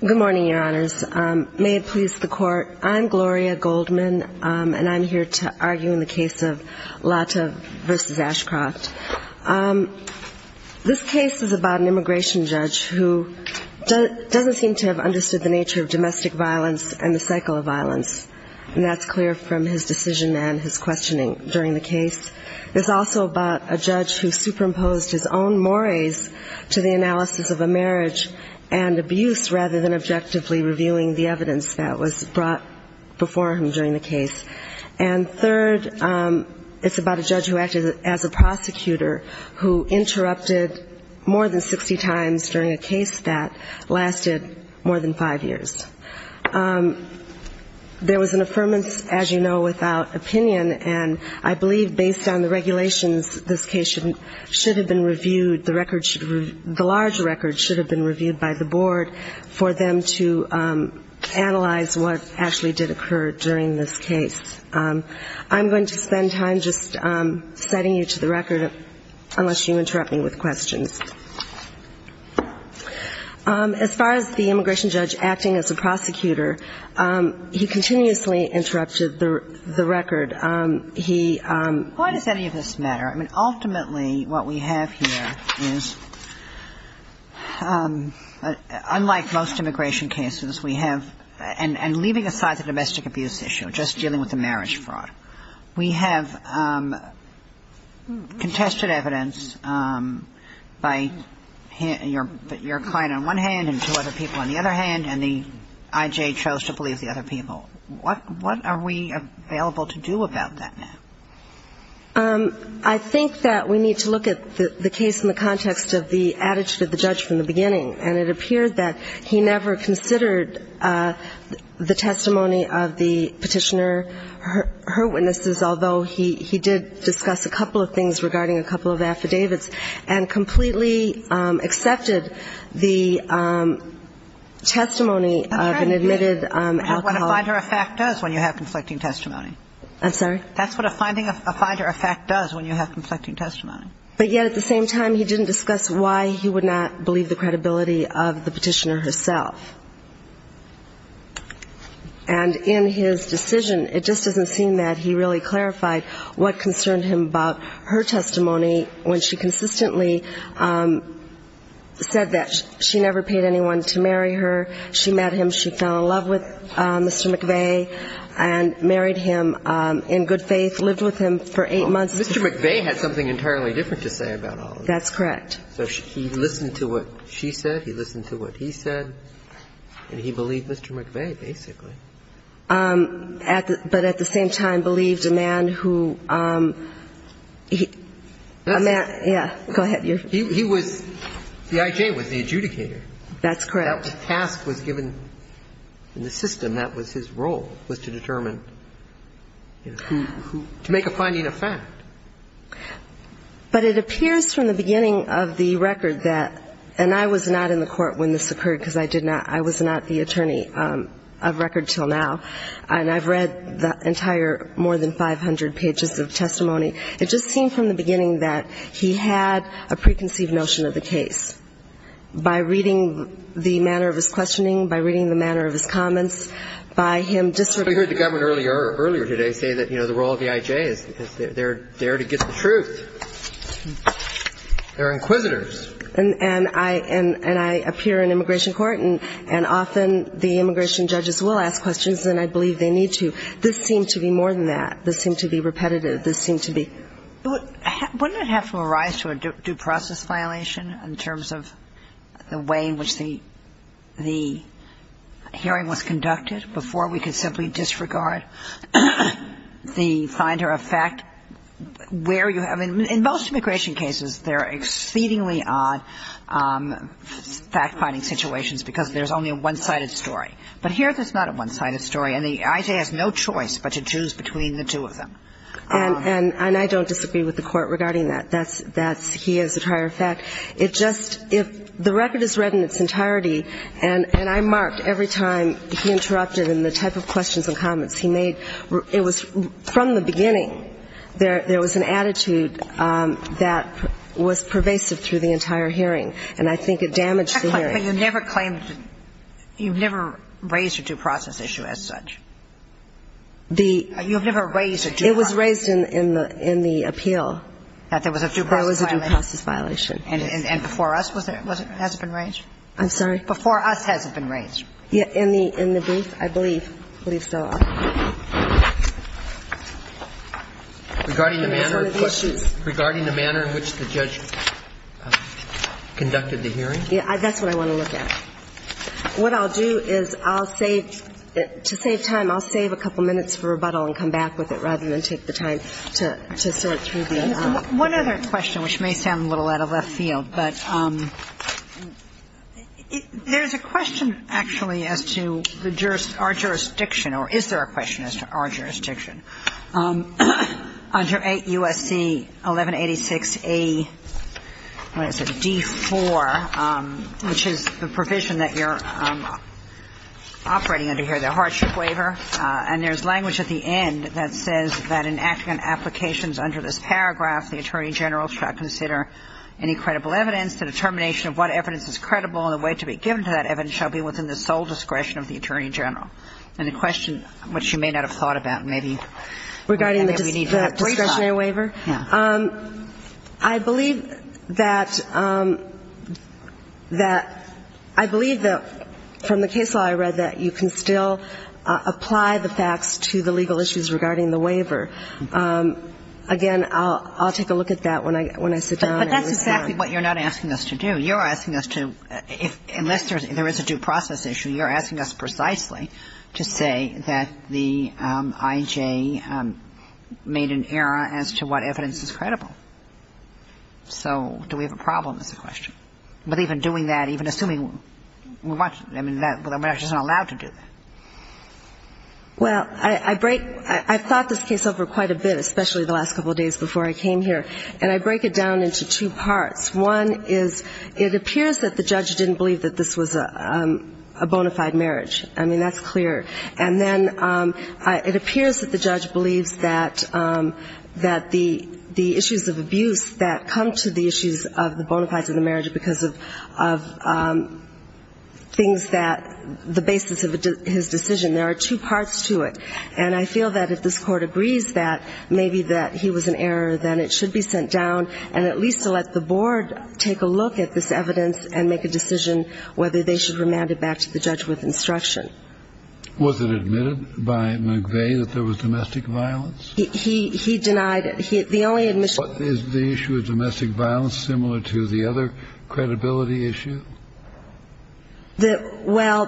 Good morning, Your Honors. May it please the Court, I'm Gloria Goldman, and I'm here to argue in the case of Lata v. Ashcroft. This case is about an immigration judge who doesn't seem to have understood the nature of domestic violence and the cycle of violence, and that's clear from his decision and his questioning during the case. It's also about a judge who superimposed his own mores to the analysis of a marriage and abuse rather than objectively reviewing the evidence that was brought before him during the case. And third, it's about a judge who acted as a prosecutor who interrupted more than 60 times during a case that lasted more than five years. There was an affirmance, as you know, without opinion, and I believe based on the regulations, this case should have been reviewed, the large record should have been reviewed by the board for them to analyze what actually did occur during this case. I'm going to spend time just setting you to the record, unless you interrupt me with questions. As far as the immigration judge acting as a prosecutor, he continuously interrupted the record. He – Why does any of this matter? I mean, ultimately what we have here is, unlike most immigration cases, we have – and leaving aside the domestic abuse issue, just dealing with the marriage fraud, we have contested evidence by your client on one hand and two other people on the other hand, and the I.J. chose to believe the other people. What are we available to do about that now? I think that we need to look at the case in the context of the attitude of the judge from the beginning, and it appears that he never considered the testimony of the petitioner, her witnesses, although he did discuss a couple of things regarding a couple of affidavits, and completely accepted the testimony of an admitted alcoholic. That's what a finder of fact does when you have conflicting testimony. I'm sorry? That's what a finder of fact does when you have conflicting testimony. But yet at the same time, he didn't discuss why he would not believe the credibility of the petitioner herself. And in his decision, it just doesn't seem that he really clarified what concerned him about her testimony when she consistently said that she never paid anyone to marry her. She met him. She fell in love with Mr. McVeigh and married him in good faith, lived with him for eight months. Mr. McVeigh had something entirely different to say about all of this. That's correct. So he listened to what she said, he listened to what he said, and he believed Mr. McVeigh, basically. But at the same time believed a man who he – a man – yeah, go ahead. He was – the I.J. was the adjudicator. That's correct. That task was given in the system. That was his role, was to determine who – to make a finding of fact. But it appears from the beginning of the record that – and I was not in the court when this occurred because I did not – I was not the attorney of record until now. And I've read the entire more than 500 pages of testimony. It just seemed from the beginning that he had a preconceived notion of the case. By reading the manner of his questioning, by reading the manner of his comments, by him – I heard the government earlier today say that, you know, the role of the I.J. is they're there to get the truth. They're inquisitors. And I appear in immigration court, and often the immigration judges will ask questions, and I believe they need to. This seemed to be more than that. This seemed to be repetitive. This seemed to be – Wouldn't it have to arise to a due process violation in terms of the way in which the hearing was conducted before we could simply disregard the finder of fact where you have – I mean, in most immigration cases, there are exceedingly odd fact-finding situations because there's only a one-sided story. But here there's not a one-sided story, and the I.J. has no choice but to choose between the two of them. And I don't disagree with the Court regarding that. That's – he is a prior fact. It just – the record is read in its entirety, and I'm marked every time he interrupted in the type of questions and comments he made. It was – from the beginning, there was an attitude that was pervasive through the entire hearing, and I think it damaged the hearing. But you never claimed – you've never raised a due process issue as such? You've never raised a due process issue? It was raised in the appeal. That there was a due process violation? That there was a due process violation. And before us, was it – has it been raised? I'm sorry? Before us, has it been raised? In the brief? I believe so. Regarding the manner in which the judge conducted the hearing? Yeah. That's what I want to look at. What I'll do is I'll save – to save time, I'll save a couple minutes for rebuttal and come back with it, rather than take the time to sort through the amount. One other question, which may sound a little out of left field, but there's a question, actually, as to our jurisdiction, or is there a question as to our jurisdiction? Under 8 U.S.C. 1186-D4, which is the provision that you're operating under here, the hardship waiver, and there's language at the end that says that in applicant applications under this paragraph, the Attorney General shall consider any credible evidence. The determination of what evidence is credible and the way to be given to that evidence shall be within the sole discretion of the Attorney General. And the question, which you may not have thought about, maybe we need to have brief time. Regarding the discretionary waiver? Yeah. I believe that – that – I believe that from the case law I read that you can still apply the facts to the legal issues regarding the waiver. Again, I'll take a look at that when I sit down. But that's exactly what you're not asking us to do. You're asking us to – unless there is a due process issue, you're asking us precisely to say that the I.J. made an error as to what evidence is credible. So do we have a problem is the question. But even doing that, even assuming – I mean, we're not just allowed to do that. Well, I break – I've thought this case over quite a bit, especially the last couple of days before I came here. And I break it down into two parts. One is it appears that the judge didn't believe that this was a bona fide marriage. I mean, that's clear. And then it appears that the judge believes that the issues of abuse that come to the issues of the bona fides of the marriage because of things that – the basis of his decision. There are two parts to it. And I feel that if this Court agrees that maybe that he was in error, then it should be sent down and at least let the board take a look at this evidence and make a decision whether they should remand it back to the judge with instruction. Was it admitted by McVeigh that there was domestic violence? He denied it. The only admission – Is the issue of domestic violence similar to the other credibility issue? Well,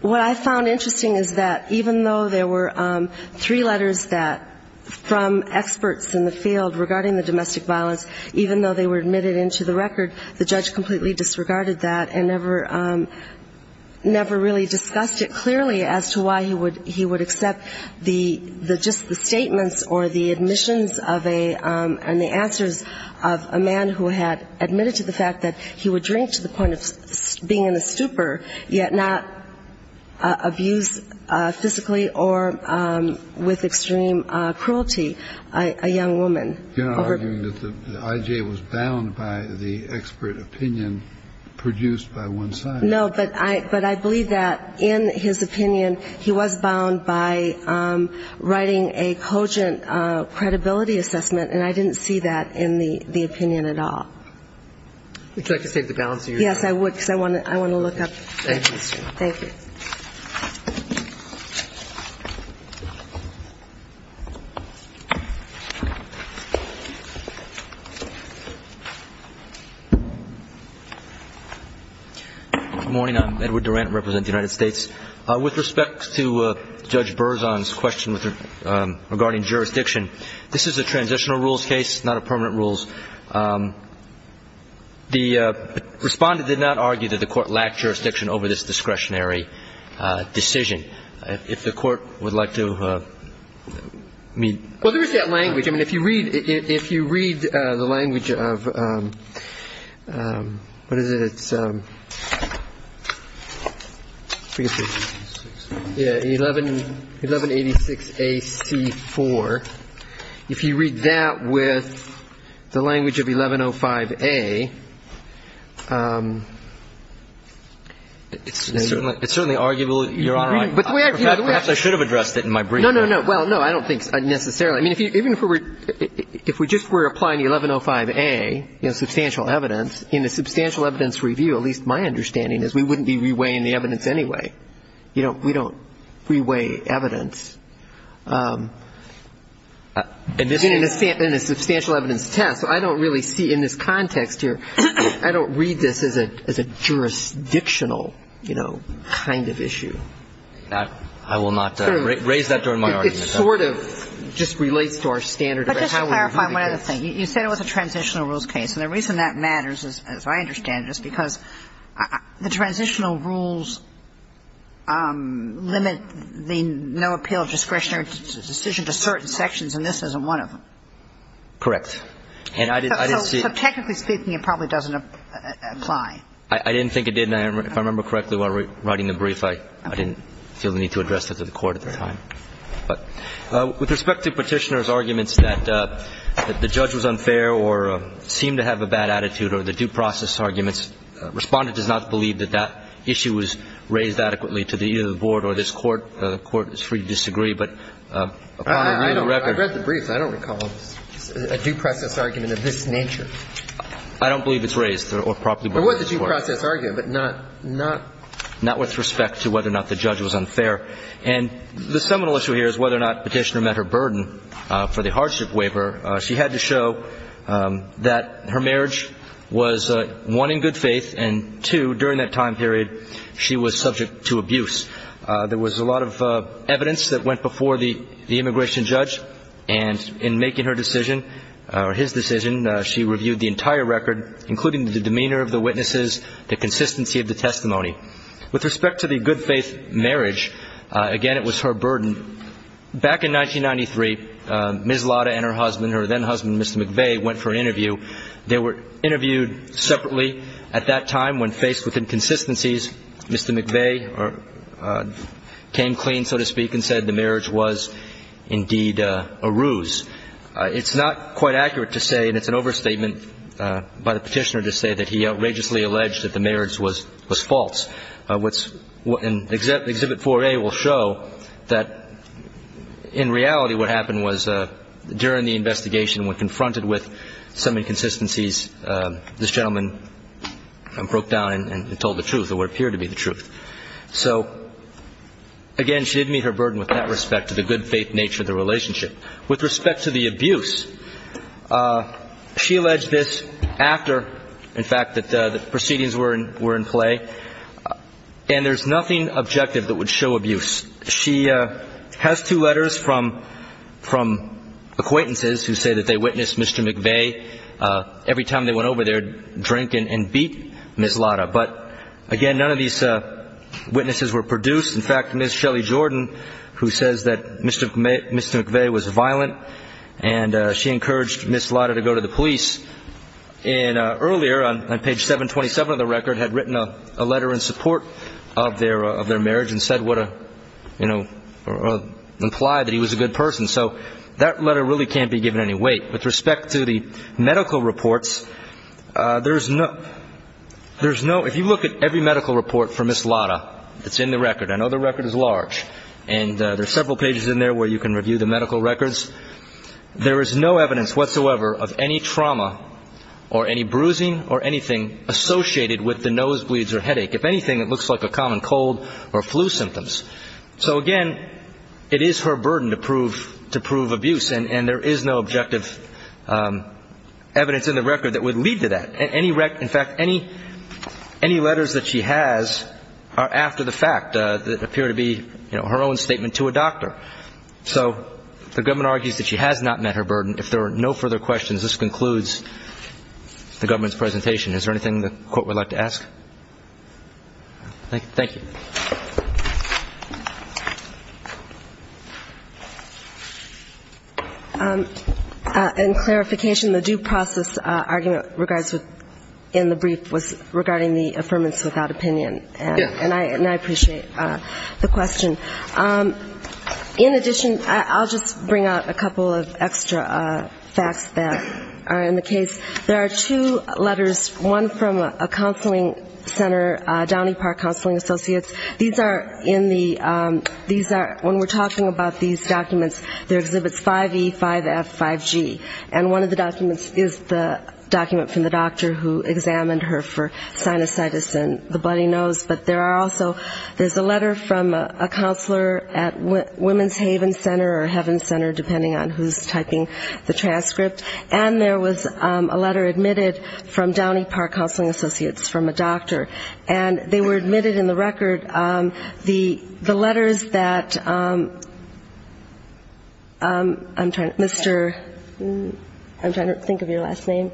what I found interesting is that even though there were three letters that – from experts in the field regarding the domestic violence, even though they were admitted into the record, the judge completely disregarded that and never really discussed it clearly as to why he would accept the – just the statements or the admissions of a – and the answers of a man who had admitted to the fact that he would drink to the point of being in a stupor, yet not abuse physically or with extreme cruelty a young woman. You're arguing that the I.J. was bound by the expert opinion produced by one side. No, but I believe that in his opinion, he was bound by writing a cogent credibility assessment, and I didn't see that in the opinion at all. Would you like to take the balance of your time? Yes, I would, because I want to look up. Thank you. Thank you. Thank you. Good morning. I'm Edward Durant. I represent the United States. With respect to Judge Berzon's question regarding jurisdiction, this is a transitional rules case, not a permanent rules. The Respondent did not argue that the Court lacked jurisdiction over this discretionary decision. If the Court would like to meet – Well, there is that language. I mean, if you read – if you read the language of – what is it? It's – yeah, 1186AC4. If you read that with the language of 1105A, it's – It's certainly arguable, Your Honor. Perhaps I should have addressed it in my briefing. No, no, no. Well, no, I don't think necessarily. I mean, even if we were – if we just were applying the 1105A, you know, substantial evidence, in a substantial evidence review, at least my understanding is we wouldn't be reweighing the evidence anyway. You know, we don't reweigh evidence in a substantial evidence test. I don't really see in this context here – I don't read this as a jurisdictional, you know, kind of issue. I will not raise that during my argument. It sort of just relates to our standard of how we're doing things. But just to clarify one other thing. You said it was a transitional rules case. And the reason that matters, as I understand it, is because the transitional rules limit the no appeal discretionary decision to certain sections, and this isn't one of them. Correct. And I didn't see – So technically speaking, it probably doesn't apply. I didn't think it did. And if I remember correctly while writing the brief, I didn't feel the need to address that to the Court at the time. With respect to Petitioner's arguments that the judge was unfair or seemed to have a bad attitude or the due process arguments, Respondent does not believe that that issue was raised adequately to either the Board or this Court. The Court is free to disagree, but upon review of the record – I read the brief. I don't recall a due process argument of this nature. I don't believe it's raised or properly brought to the Court. It was a due process argument, but not – Not with respect to whether or not the judge was unfair. And the seminal issue here is whether or not Petitioner met her burden for the hardship waiver. She had to show that her marriage was, one, in good faith, and, two, during that time period, she was subject to abuse. There was a lot of evidence that went before the immigration judge, and in making her decision or his decision, she reviewed the entire record, including the demeanor of the witnesses, the consistency of the testimony. With respect to the good faith marriage, again, it was her burden. Back in 1993, Ms. Lotta and her husband, her then-husband, Mr. McVeigh, went for an interview. They were interviewed separately. At that time, when faced with inconsistencies, Mr. McVeigh came clean, so to speak, and said the marriage was indeed a ruse. It's not quite accurate to say, and it's an overstatement by the Petitioner to say, that he outrageously alleged that the marriage was false. Exhibit 4A will show that, in reality, what happened was, during the investigation, when confronted with some inconsistencies, this gentleman broke down and told the truth, or what appeared to be the truth. So, again, she did meet her burden with that respect, to the good faith nature of the relationship. With respect to the abuse, she alleged this after, in fact, that the proceedings were in play. And there's nothing objective that would show abuse. She has two letters from acquaintances who say that they witnessed Mr. McVeigh, every time they went over there, drink and beat Ms. Lotta. But, again, none of these witnesses were produced. In fact, Ms. Shelley Jordan, who says that Mr. McVeigh was violent and she encouraged Ms. Lotta to go to the police, earlier on page 727 of the record had written a letter in support of their marriage and implied that he was a good person. So that letter really can't be given any weight. With respect to the medical reports, if you look at every medical report for Ms. Lotta that's in the record, I know the record is large, and there are several pages in there where you can review the medical records, there is no evidence whatsoever of any trauma or any bruising or anything associated with the nosebleeds or headache. If anything, it looks like a common cold or flu symptoms. So, again, it is her burden to prove abuse, and there is no objective evidence in the record that would lead to that. In fact, any letters that she has are after the fact that appear to be her own statement to a doctor. So the government argues that she has not met her burden. If there are no further questions, this concludes the government's presentation. Is there anything the Court would like to ask? Thank you. In clarification, the due process argument in the brief was regarding the affirmance without opinion, and I appreciate the question. In addition, I'll just bring out a couple of extra facts that are in the case. There are two letters, one from a counseling center, Downey Park Counseling Associates, these are in the, when we're talking about these documents, they're exhibits 5E, 5F, 5G, and one of the documents is the document from the doctor who examined her for sinusitis and the bloody nose. But there are also, there's a letter from a counselor at Women's Haven Center or Heaven Center, depending on who's typing the transcript, and there was a letter admitted from Downey Park Counseling Associates from a doctor. And they were admitted in the record, the letters that Mr. I'm trying to think of your last name,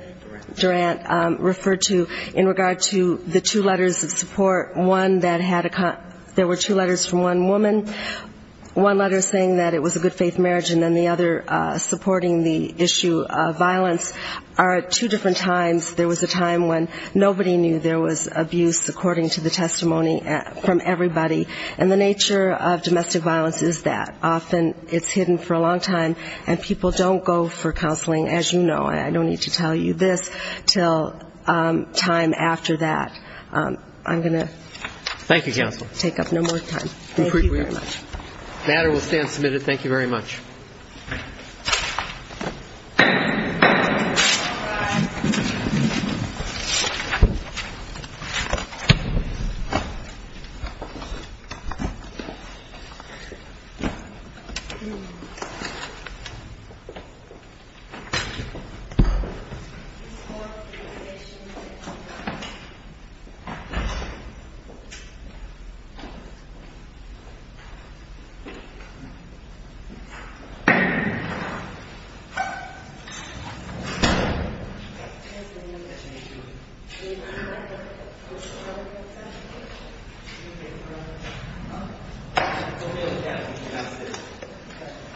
Durant, referred to in regard to the two letters of support, one that had, there were two letters from one woman, one letter saying that it was a good faith marriage, and then the other supporting the issue of violence. These are two different times, there was a time when nobody knew there was abuse, according to the testimony from everybody, and the nature of domestic violence is that. Often it's hidden for a long time, and people don't go for counseling, as you know, I don't need to tell you this, until time after that. I'm going to take up no more time. Thank you very much. Thank you. Thank you.